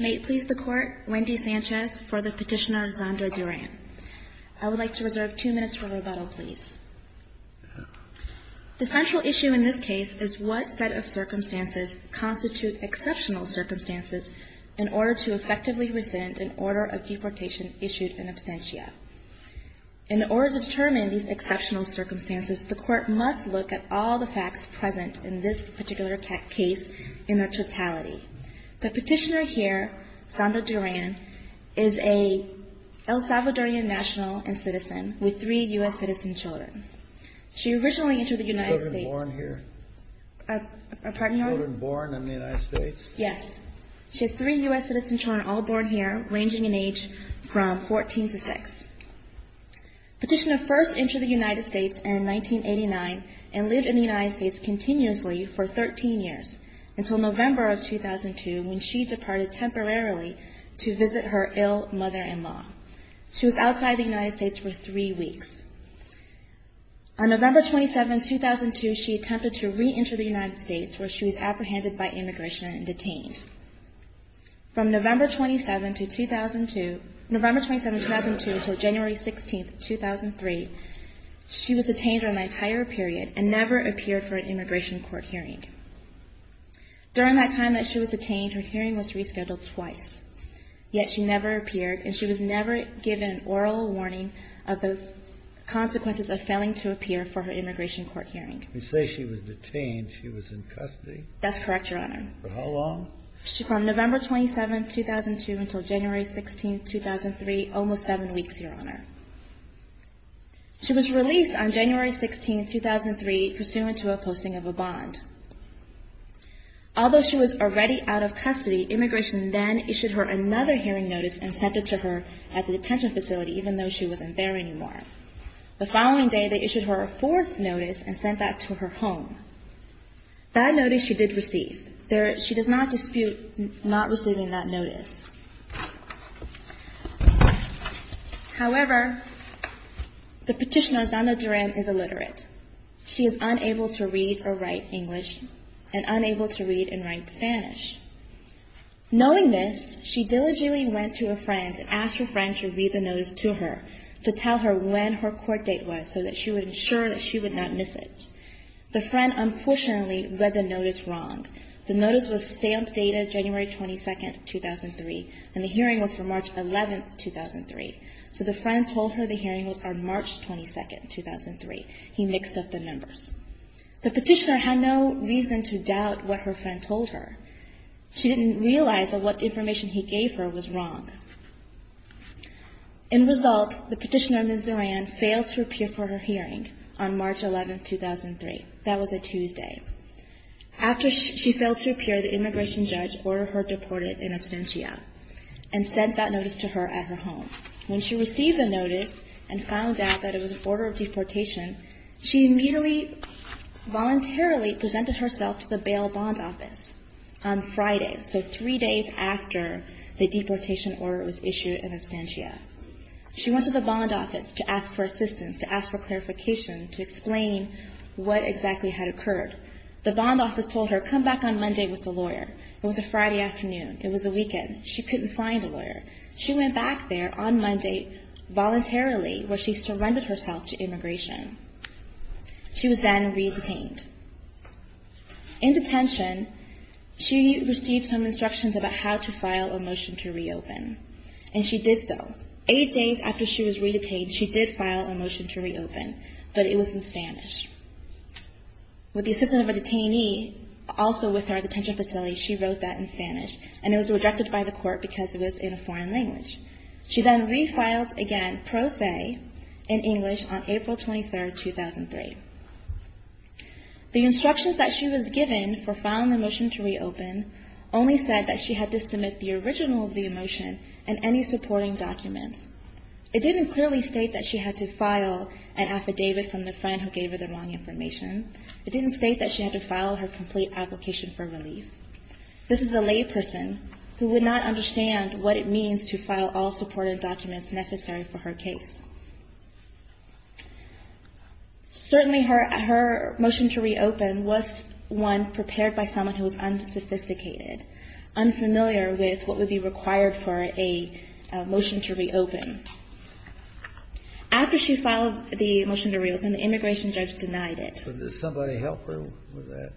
May it please the Court, Wendy Sanchez for the petitioner Xander Duran. I would like to reserve two minutes for rebuttal, please. The central issue in this case is what set of circumstances constitute exceptional circumstances in order to effectively rescind an order of deportation issued in absentia. In order to determine these exceptional circumstances, the Court must look at all the facts present in this particular case in their totality. The petitioner here, Xander Duran, is an El Salvadorian national and citizen with three U.S. citizen children. She originally entered the United States... Children born here? Pardon? Children born in the United States? Yes. She has three U.S. citizen children, all born here, ranging in age from 14 to 6. Petitioner first entered the United States in 1989 and lived in the United States continuously for 13 years, until November of 2002, when she departed temporarily to visit her ill mother-in-law. She was outside the United States for three weeks. On November 27, 2002, she attempted to reenter the United States, where she was apprehended by immigration and detained. From November 27, 2002 until January 16, 2003, she was detained for an entire period and never appeared for an immigration court hearing. During that time that she was detained, her hearing was rescheduled twice. Yet she never appeared, and she was never given an oral warning of the consequences of failing to appear for her immigration court hearing. You say she was detained. She was in custody? That's correct, Your Honor. For how long? From November 27, 2002 until January 16, 2003, almost seven weeks, Your Honor. She was released on January 16, 2003, pursuant to a posting of a bond. Although she was already out of custody, immigration then issued her another hearing notice and sent it to her at the detention facility, even though she wasn't there anymore. The following day, they issued her a fourth notice and sent that to her home. That notice she did receive. She does not dispute not receiving that notice. However, the petitioner, Zana Duran, is illiterate. She is unable to read or write English and unable to read and write Spanish. Knowing this, she diligently went to a friend and asked her friend to read the notice to her to tell her when her court date was so that she would ensure that she would not miss it. The friend, unfortunately, read the notice wrong. The notice was stamped dated January 22, 2003, and the hearing was for March 11, 2003. So the friend told her the hearing was on March 22, 2003. He mixed up the numbers. The petitioner had no reason to doubt what her friend told her. She didn't realize that what information he gave her was wrong. In result, the petitioner, Ms. Duran, failed to appear for her hearing on March 11, 2003. That was a Tuesday. After she failed to appear, the immigration judge ordered her deported in absentia and sent that notice to her at her home. When she received the notice and found out that it was an order of deportation, she immediately voluntarily presented herself to the bail bond office on Friday, so three days after the deportation order was issued in absentia. She went to the bond office to ask for assistance, to ask for clarification, to explain what exactly had occurred. The bond office told her, come back on Monday with the lawyer. It was a Friday afternoon. It was a weekend. She couldn't find a lawyer. She went back there on Monday voluntarily, where she surrendered herself to immigration. She was then re-detained. In detention, she received some instructions about how to file a motion to reopen, and she did so. Eight days after she was re-detained, she did file a motion to reopen, but it was in Spanish. With the assistance of a detainee, also with her detention facility, she wrote that in Spanish, and it was rejected by the court because it was in a foreign language. She then re-filed again, pro se, in English on April 23, 2003. The instructions that she was given for filing the motion to reopen only said that she had to submit the original of the motion and any supporting documents. It didn't clearly state that she had to file an affidavit from the friend who gave her the wrong information. It didn't state that she had to file her complete application for relief. This is a layperson who would not understand what it means to file all supportive documents necessary for her case. Certainly, her motion to reopen was one prepared by someone who was unsophisticated, unfamiliar with what would be required for a motion to reopen. After she filed the motion to reopen, the immigration judge denied it. But did somebody help her with that?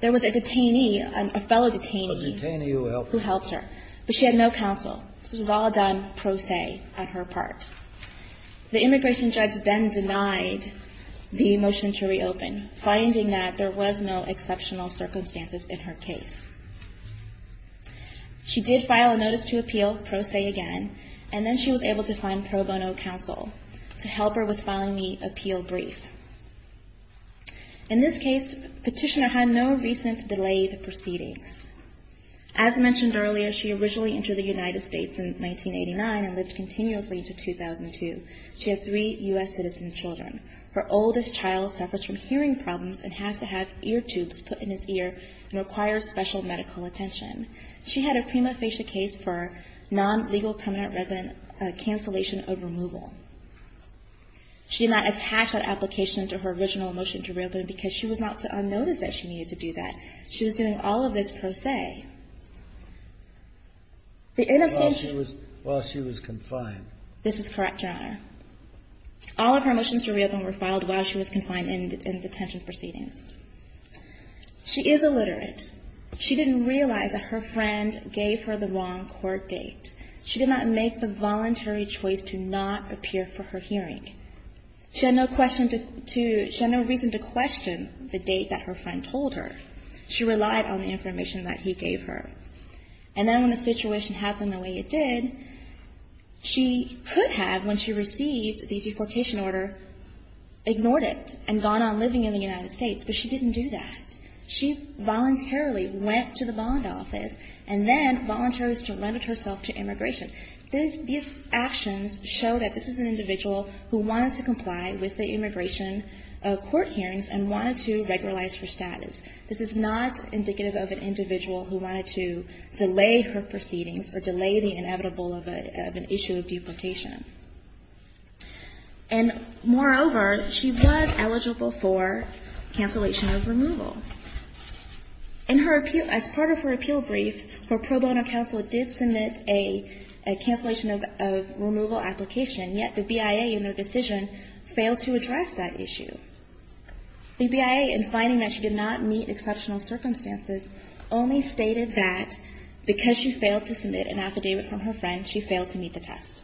There was a detainee, a fellow detainee. A detainee who helped her. Who helped her. But she had no counsel. This was all done pro se on her part. The immigration judge then denied the motion to reopen, finding that there was no exceptional circumstances in her case. She did file a notice to appeal, pro se again, and then she was able to find pro bono counsel to help her with filing the appeal brief. In this case, Petitioner had no recent delayed proceedings. As mentioned earlier, she originally entered the United States in 1989 and lived continuously until 2002. She had three U.S. citizen children. Her oldest child suffers from hearing problems and has to have ear tubes put in his ear and requires special medical attention. She had a prima facie case for non-legal permanent resident cancellation of removal. She did not attach that application to her original motion to reopen because she was not put on notice that she needed to do that. She was doing all of this pro se. While she was confined. This is correct, Your Honor. All of her motions to reopen were filed while she was confined in detention proceedings. She is illiterate. She didn't realize that her friend gave her the wrong court date. She did not make the voluntary choice to not appear for her hearing. She had no reason to question the date that her friend told her. She relied on the information that he gave her. And then when the situation happened the way it did, she could have, when she received the deportation order, ignored it and gone on living in the United States. But she didn't do that. She voluntarily went to the bond office and then voluntarily surrendered herself to immigration. These actions show that this is an individual who wanted to comply with the immigration court hearings and wanted to regularize her status. This is not indicative of an individual who wanted to delay her proceedings or delay the inevitable of an issue of deportation. And, moreover, she was eligible for cancellation of removal. As part of her appeal brief, her pro bono counsel did submit a cancellation of removal application, yet the BIA in their decision failed to address that issue. The BIA, in finding that she did not meet exceptional circumstances, only stated that because she failed to submit an affidavit from her friend, she failed to meet the test,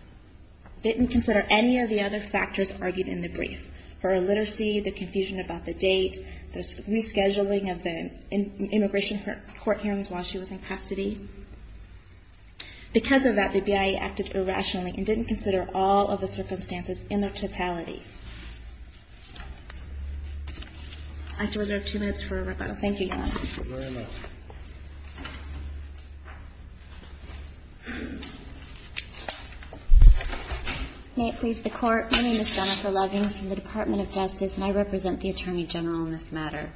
didn't consider any of the other factors argued in the brief, her illiteracy, the confusion about the date, the rescheduling of the immigration court hearings while she was in custody. Because of that, the BIA acted irrationally and didn't consider all of the circumstances in their totality. I have to reserve two minutes for a rebuttal. Thank you, Your Honor. May it please the Court. My name is Jennifer Lovings from the Department of Justice, and I represent the Attorney General in this matter.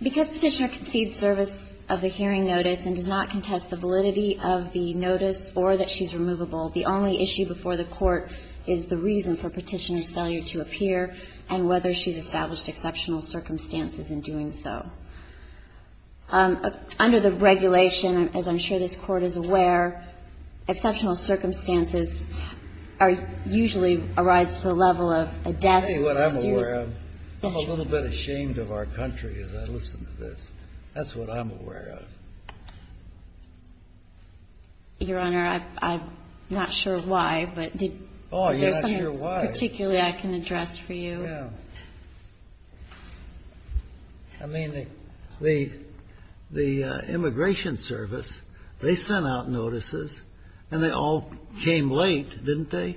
Because Petitioner concedes service of the hearing notice and does not contest the validity of the notice or that she's removable, the only issue before the Court is the reason for Petitioner's failure to appear and whether she's established exceptional circumstances in doing so. Under the regulation, as I'm sure this Court is aware, exceptional circumstances are usually a rise to the level of a death. That's what I'm aware of. I'm a little bit ashamed of our country as I listen to this. That's what I'm aware of. Your Honor, I'm not sure why, but did you have something particularly I can address for you? Yeah. I mean, the immigration service, they sent out notices, and they all came with a delay, didn't they?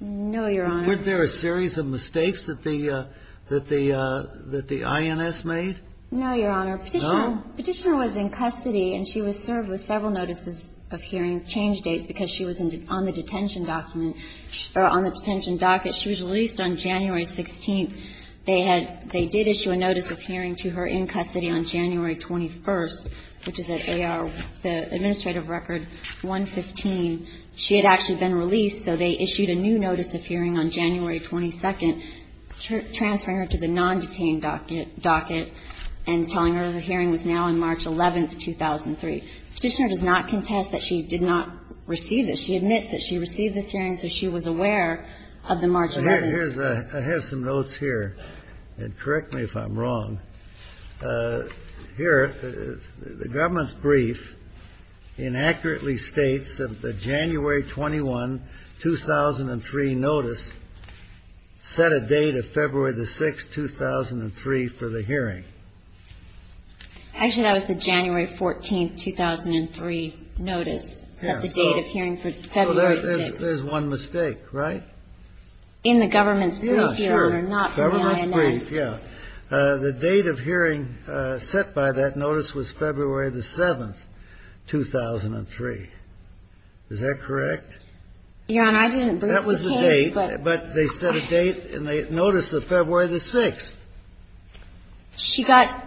No, Your Honor. Weren't there a series of mistakes that the INS made? No, Your Honor. Petitioner was in custody, and she was served with several notices of hearing change dates because she was on the detention document or on the detention docket. She was released on January 16th. They had they did issue a notice of hearing to her in custody on January 21st, which is at AR, the administrative record 115. She had actually been released, so they issued a new notice of hearing on January 22nd, transferring her to the non-detained docket and telling her her hearing was now on March 11th, 2003. Petitioner does not contest that she did not receive this. She admits that she received this hearing, so she was aware of the March 11th. I have some notes here, and correct me if I'm wrong. Here, the government's brief inaccurately states that the January 21, 2003 notice set a date of February the 6th, 2003 for the hearing. Actually, that was the January 14th, 2003 notice set the date of hearing for February 6th. There's one mistake, right? In the government's brief, Your Honor, not from the INS. In the government's brief, yeah. The date of hearing set by that notice was February the 7th, 2003. Is that correct? Your Honor, I didn't brief the case. That was the date. But they set a date, and they noticed that February the 6th. She got,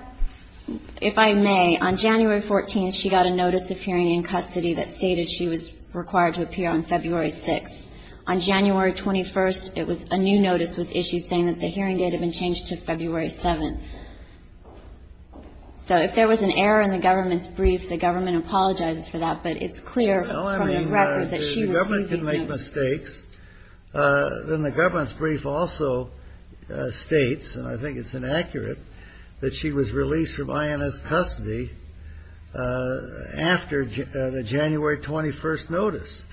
if I may, on January 14th, she got a notice of hearing in custody that stated she was required to appear on February 6th. On January 21st, a new notice was issued saying that the hearing date had been changed to February 7th. So if there was an error in the government's brief, the government apologizes for that. But it's clear from the record that she received these notes. Well, I mean, if the government can make mistakes, then the government's brief also states, and I think it's inaccurate, that she was released from INS custody after the January 21st notice.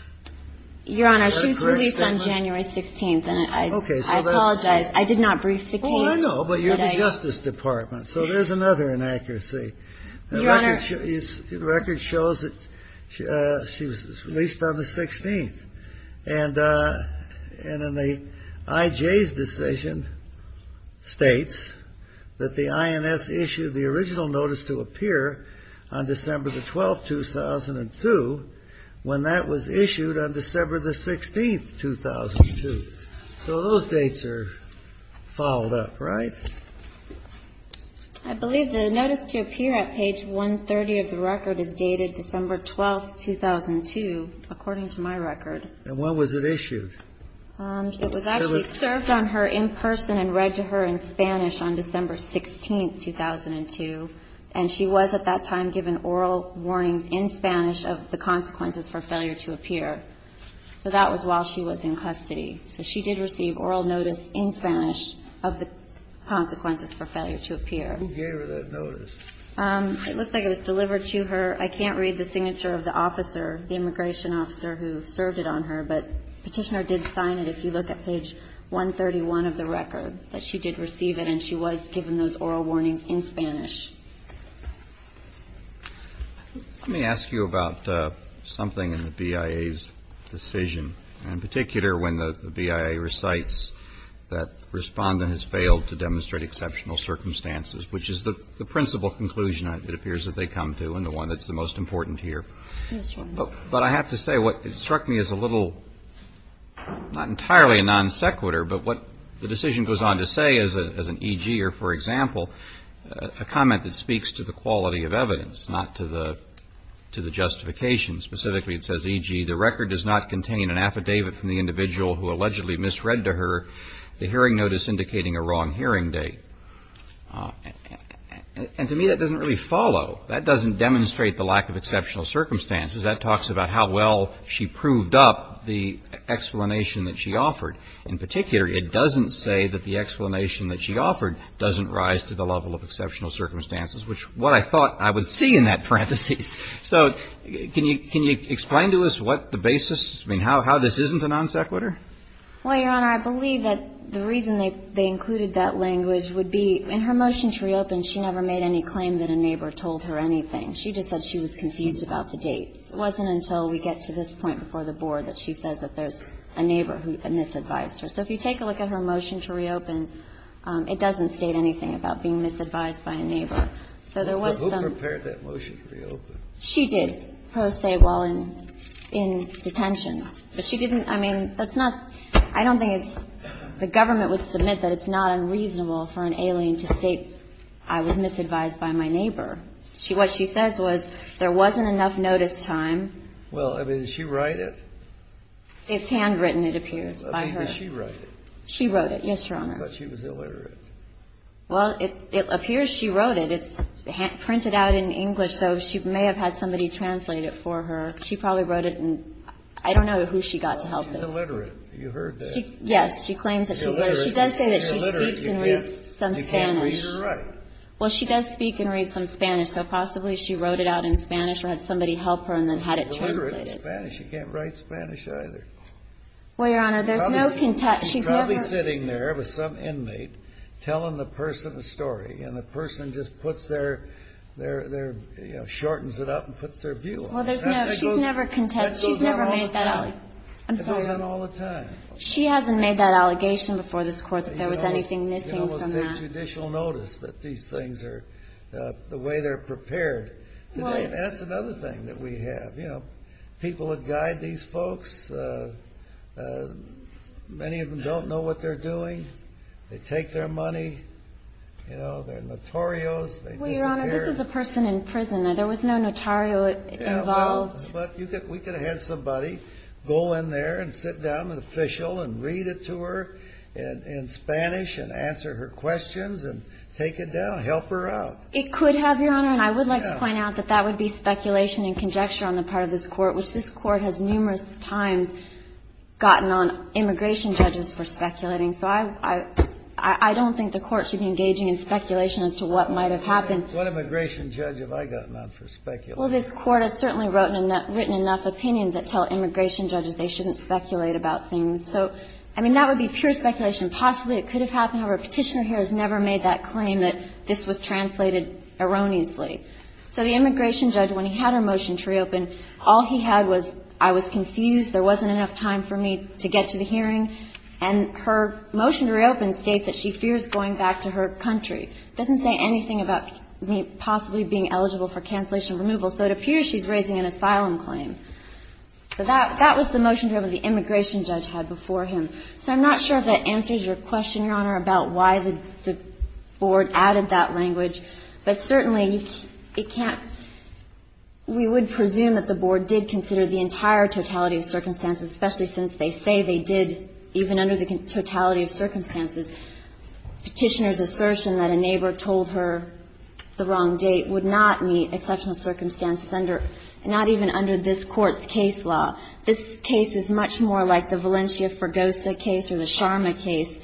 Your Honor, she was released on January 16th, and I apologize. I did not brief the case. Well, I know, but you're the Justice Department. So there's another inaccuracy. Your Honor. The record shows that she was released on the 16th. And in the IJ's decision states that the INS issued the original notice to appear on December the 12th, 2002, when that was issued on December the 16th, 2002. So those dates are followed up, right? I believe the notice to appear at page 130 of the record is dated December 12th, 2002, according to my record. And when was it issued? It was actually served on her in person and read to her in Spanish on December 16th, 2002. And she was at that time given oral warnings in Spanish of the consequences for failure to appear. So that was while she was in custody. So she did receive oral notice in Spanish of the consequences for failure to appear. Who gave her that notice? It looks like it was delivered to her. I can't read the signature of the officer, the immigration officer who served it on her, but Petitioner did sign it, if you look at page 131 of the record, that she did receive it and she was given those oral warnings in Spanish. Let me ask you about something in the BIA's decision, in particular when the BIA recites that the respondent has failed to demonstrate exceptional circumstances, which is the principal conclusion it appears that they come to and the one that's the most important here. But I have to say what struck me as a little, not entirely a non sequitur, but what the decision goes on to say as an E.G. or for example, a comment that speaks to the quality of evidence, not to the justification. Specifically it says, E.G., the record does not contain an affidavit from the individual who allegedly misread to her the hearing notice indicating a wrong hearing date. And to me that doesn't really follow. That doesn't demonstrate the lack of exceptional circumstances. That talks about how well she proved up the explanation that she offered. In particular, it doesn't say that the explanation that she offered doesn't rise to the level of exceptional circumstances, which what I thought I would see in that parenthesis. So can you explain to us what the basis, I mean, how this isn't a non sequitur? Well, Your Honor, I believe that the reason they included that language would be in her motion to reopen, she never made any claim that a neighbor told her anything. She just said she was confused about the dates. It wasn't until we get to this point before the board that she says that there's a neighbor who misadvised her. So if you take a look at her motion to reopen, it doesn't state anything about being misadvised by a neighbor. So there was some. But who prepared that motion to reopen? She did, pro se, while in detention. But she didn't, I mean, that's not, I don't think it's, the government would submit that it's not unreasonable for an alien to state I was misadvised by my neighbor. What she says was there wasn't enough notice time. Well, I mean, did she write it? It's handwritten, it appears, by her. I mean, did she write it? She wrote it, yes, Your Honor. I thought she was illiterate. Well, it appears she wrote it. It's printed out in English, so she may have had somebody translate it for her. She probably wrote it, and I don't know who she got to help her. She's illiterate. You heard that. Yes, she claims that she's illiterate. She does say that she speaks and reads some Spanish. You can't read or write. Well, she does speak and read some Spanish, so possibly she wrote it out in Spanish or had somebody help her and then had it translated. She's illiterate in Spanish. She can't write Spanish either. Well, Your Honor, there's no contempt. She's probably sitting there with some inmate, telling the person a story, and the person just puts their, you know, shortens it up and puts their view on it. Well, there's no, she's never contempt, she's never made that up. That goes on all the time. I'm sorry. That goes on all the time. She hasn't made that allegation before this Court that there was anything missing from that. There's no judicial notice that these things are the way they're prepared. That's another thing that we have. You know, people that guide these folks, many of them don't know what they're doing. They take their money. You know, they're notorios. They disappear. Well, Your Honor, this is a person in prison. There was no notario involved. Yeah, well, but we could have had somebody go in there and sit down, an official, and read it to her in Spanish and answer her questions and take it down, help her out. It could have, Your Honor. And I would like to point out that that would be speculation and conjecture on the part of this Court, which this Court has numerous times gotten on immigration judges for speculating. So I don't think the Court should be engaging in speculation as to what might have happened. What immigration judge have I gotten on for speculating? Well, this Court has certainly written enough opinions that tell immigration judges they shouldn't speculate about things. So, I mean, that would be pure speculation. Possibly it could have happened. However, a Petitioner here has never made that claim that this was translated erroneously. So the immigration judge, when he had her motion to reopen, all he had was I was confused, there wasn't enough time for me to get to the hearing. And her motion to reopen states that she fears going back to her country. It doesn't say anything about me possibly being eligible for cancellation or removal. So it appears she's raising an asylum claim. So that was the motion to reopen the immigration judge had before him. So I'm not sure if that answers your question, Your Honor, about why the Board added that language. But certainly, it can't we would presume that the Board did consider the entire totality of circumstances, especially since they say they did, even under the totality of circumstances, Petitioner's assertion that a neighbor told her the wrong date would not meet exceptional circumstances, not even under this Court's case law. This case is much more like the Valencia-Fergosa case or the Sharma case,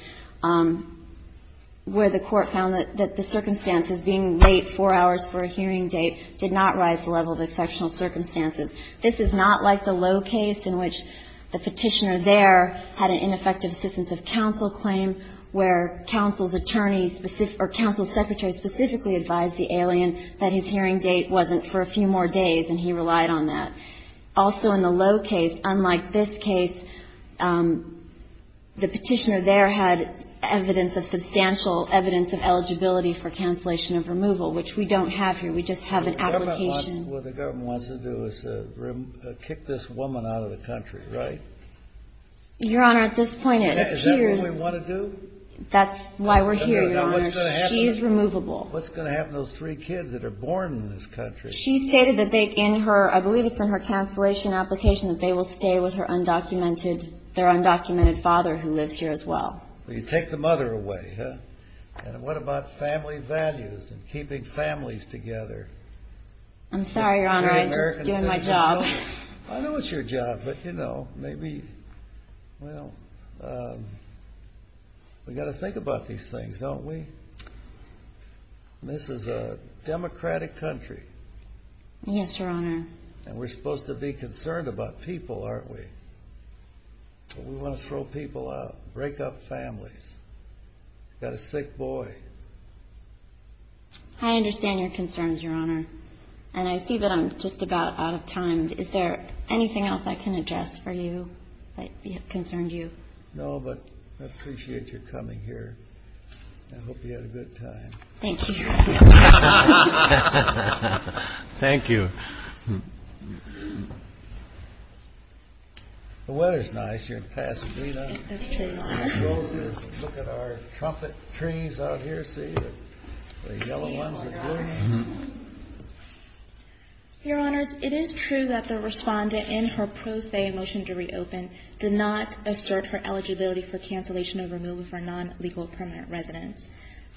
where the Court found that the circumstances, being late four hours for a hearing date, did not rise to the level of exceptional circumstances. This is not like the Lowe case in which the Petitioner there had an ineffective assistance of counsel claim, where counsel's attorney or counsel's secretary specifically advised the alien that his hearing date wasn't for a few more days, and he relied on that. Also, in the Lowe case, unlike this case, the Petitioner there had evidence of substantial evidence of eligibility for cancellation of removal, which we don't have here. We just have an application. What the government wants to do is kick this woman out of the country, right? Your Honor, at this point, it appears Is that what we want to do? That's why we're here, Your Honor. She's removable. What's going to happen to those three kids that are born in this country? She stated that they, in her, I believe it's in her cancellation application, that they will stay with their undocumented father who lives here as well. You take the mother away, huh? And what about family values and keeping families together? I'm sorry, Your Honor, I'm just doing my job. I know it's your job, but, you know, maybe, well, we've got to think about these things, don't we? This is a democratic country. Yes, Your Honor. And we're supposed to be concerned about people, aren't we? But we want to throw people out, break up families. I've got a sick boy. I understand your concerns, Your Honor. And I see that I'm just about out of time. Is there anything else I can address for you that concerned you? No, but I appreciate your coming here. I hope you had a good time. Thank you. Thank you. The weather's nice here in Pasadena. It is, Your Honor. Look at our trumpet trees out here. See the yellow ones? Your Honor, it is true that the respondent in her pro se motion to reopen did not assert her eligibility for cancellation of removal for non-legal permanent residence.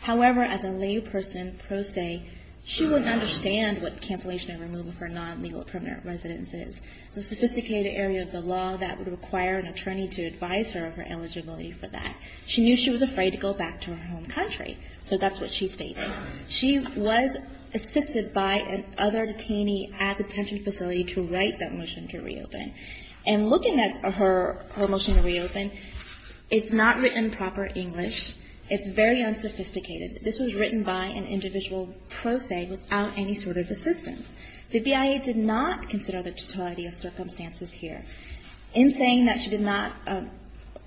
However, as a layperson pro se, she wouldn't understand what cancellation of removal for non-legal permanent residence is. It's a sophisticated area of the law that would require an attorney to advise her of her eligibility for that. She knew she was afraid to go back to her home country, so that's what she stated. She was assisted by another detainee at the detention facility to write that motion to reopen. And looking at her motion to reopen, it's not written proper English. It's very unsophisticated. This was written by an individual pro se without any sort of assistance. The BIA did not consider the totality of circumstances here. In saying that she did not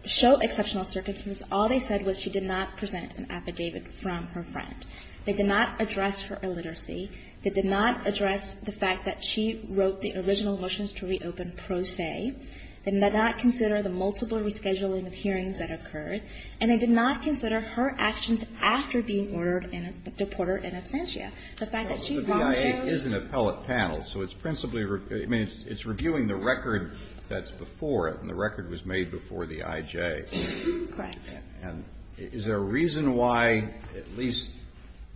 show exceptional circumstances, all they said was she did not present an affidavit from her friend. They did not address her illiteracy. They did not address the fact that she wrote the original motions to reopen pro se. They did not consider the multiple rescheduling of hearings that occurred. And they did not consider her actions after being ordered in a deporter in absentia. The fact that she wrote those. The BIA is an appellate panel, so it's principally reviewing the record that's before it, and the record was made before the IJ. Correct. And is there a reason why at least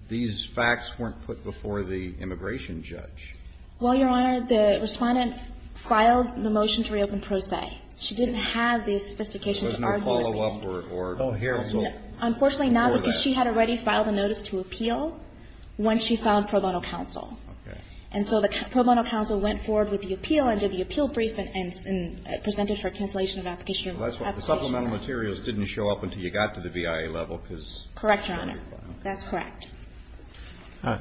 these facts weren't put before the immigration judge? Well, Your Honor, the Respondent filed the motion to reopen pro se. She didn't have the sophistication to argue with me. So there's no follow-up, or? Unfortunately not, because she had already filed a notice to appeal when she filed pro bono counsel. Okay. And so the pro bono counsel went forward with the appeal and did the appeal brief and presented for cancellation of application. The supplemental materials didn't show up until you got to the BIA level, because Correct, Your Honor. That's correct.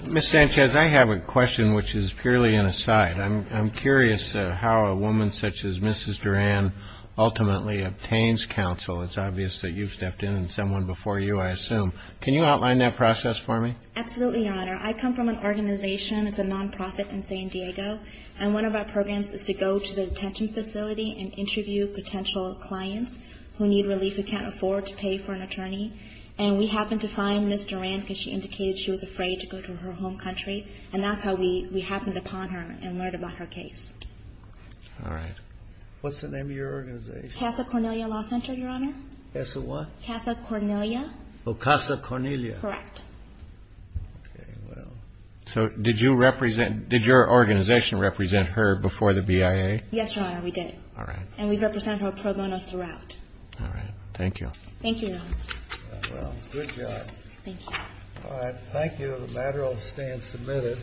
Ms. Sanchez, I have a question which is purely an aside. I'm curious how a woman such as Mrs. Duran ultimately obtains counsel. It's obvious that you've stepped in and someone before you, I assume. Can you outline that process for me? Absolutely, Your Honor. I come from an organization. It's a nonprofit in San Diego. And one of our programs is to go to the detention facility and interview potential clients who need relief who can't afford to pay for an attorney. And we happened to find Ms. Duran because she indicated she was afraid to go to her home country. And that's how we happened upon her and learned about her case. All right. What's the name of your organization? Casa Cornelia Law Center, Your Honor. Casa what? Casa Cornelia. Oh, Casa Cornelia. Correct. Okay, well. So did your organization represent her before the BIA? Yes, Your Honor, we did. All right. And we represent her pro bono throughout. All right. Thank you. Thank you, Your Honor. Well, good job. Thank you. All right. Thank you. The matter will stand submitted.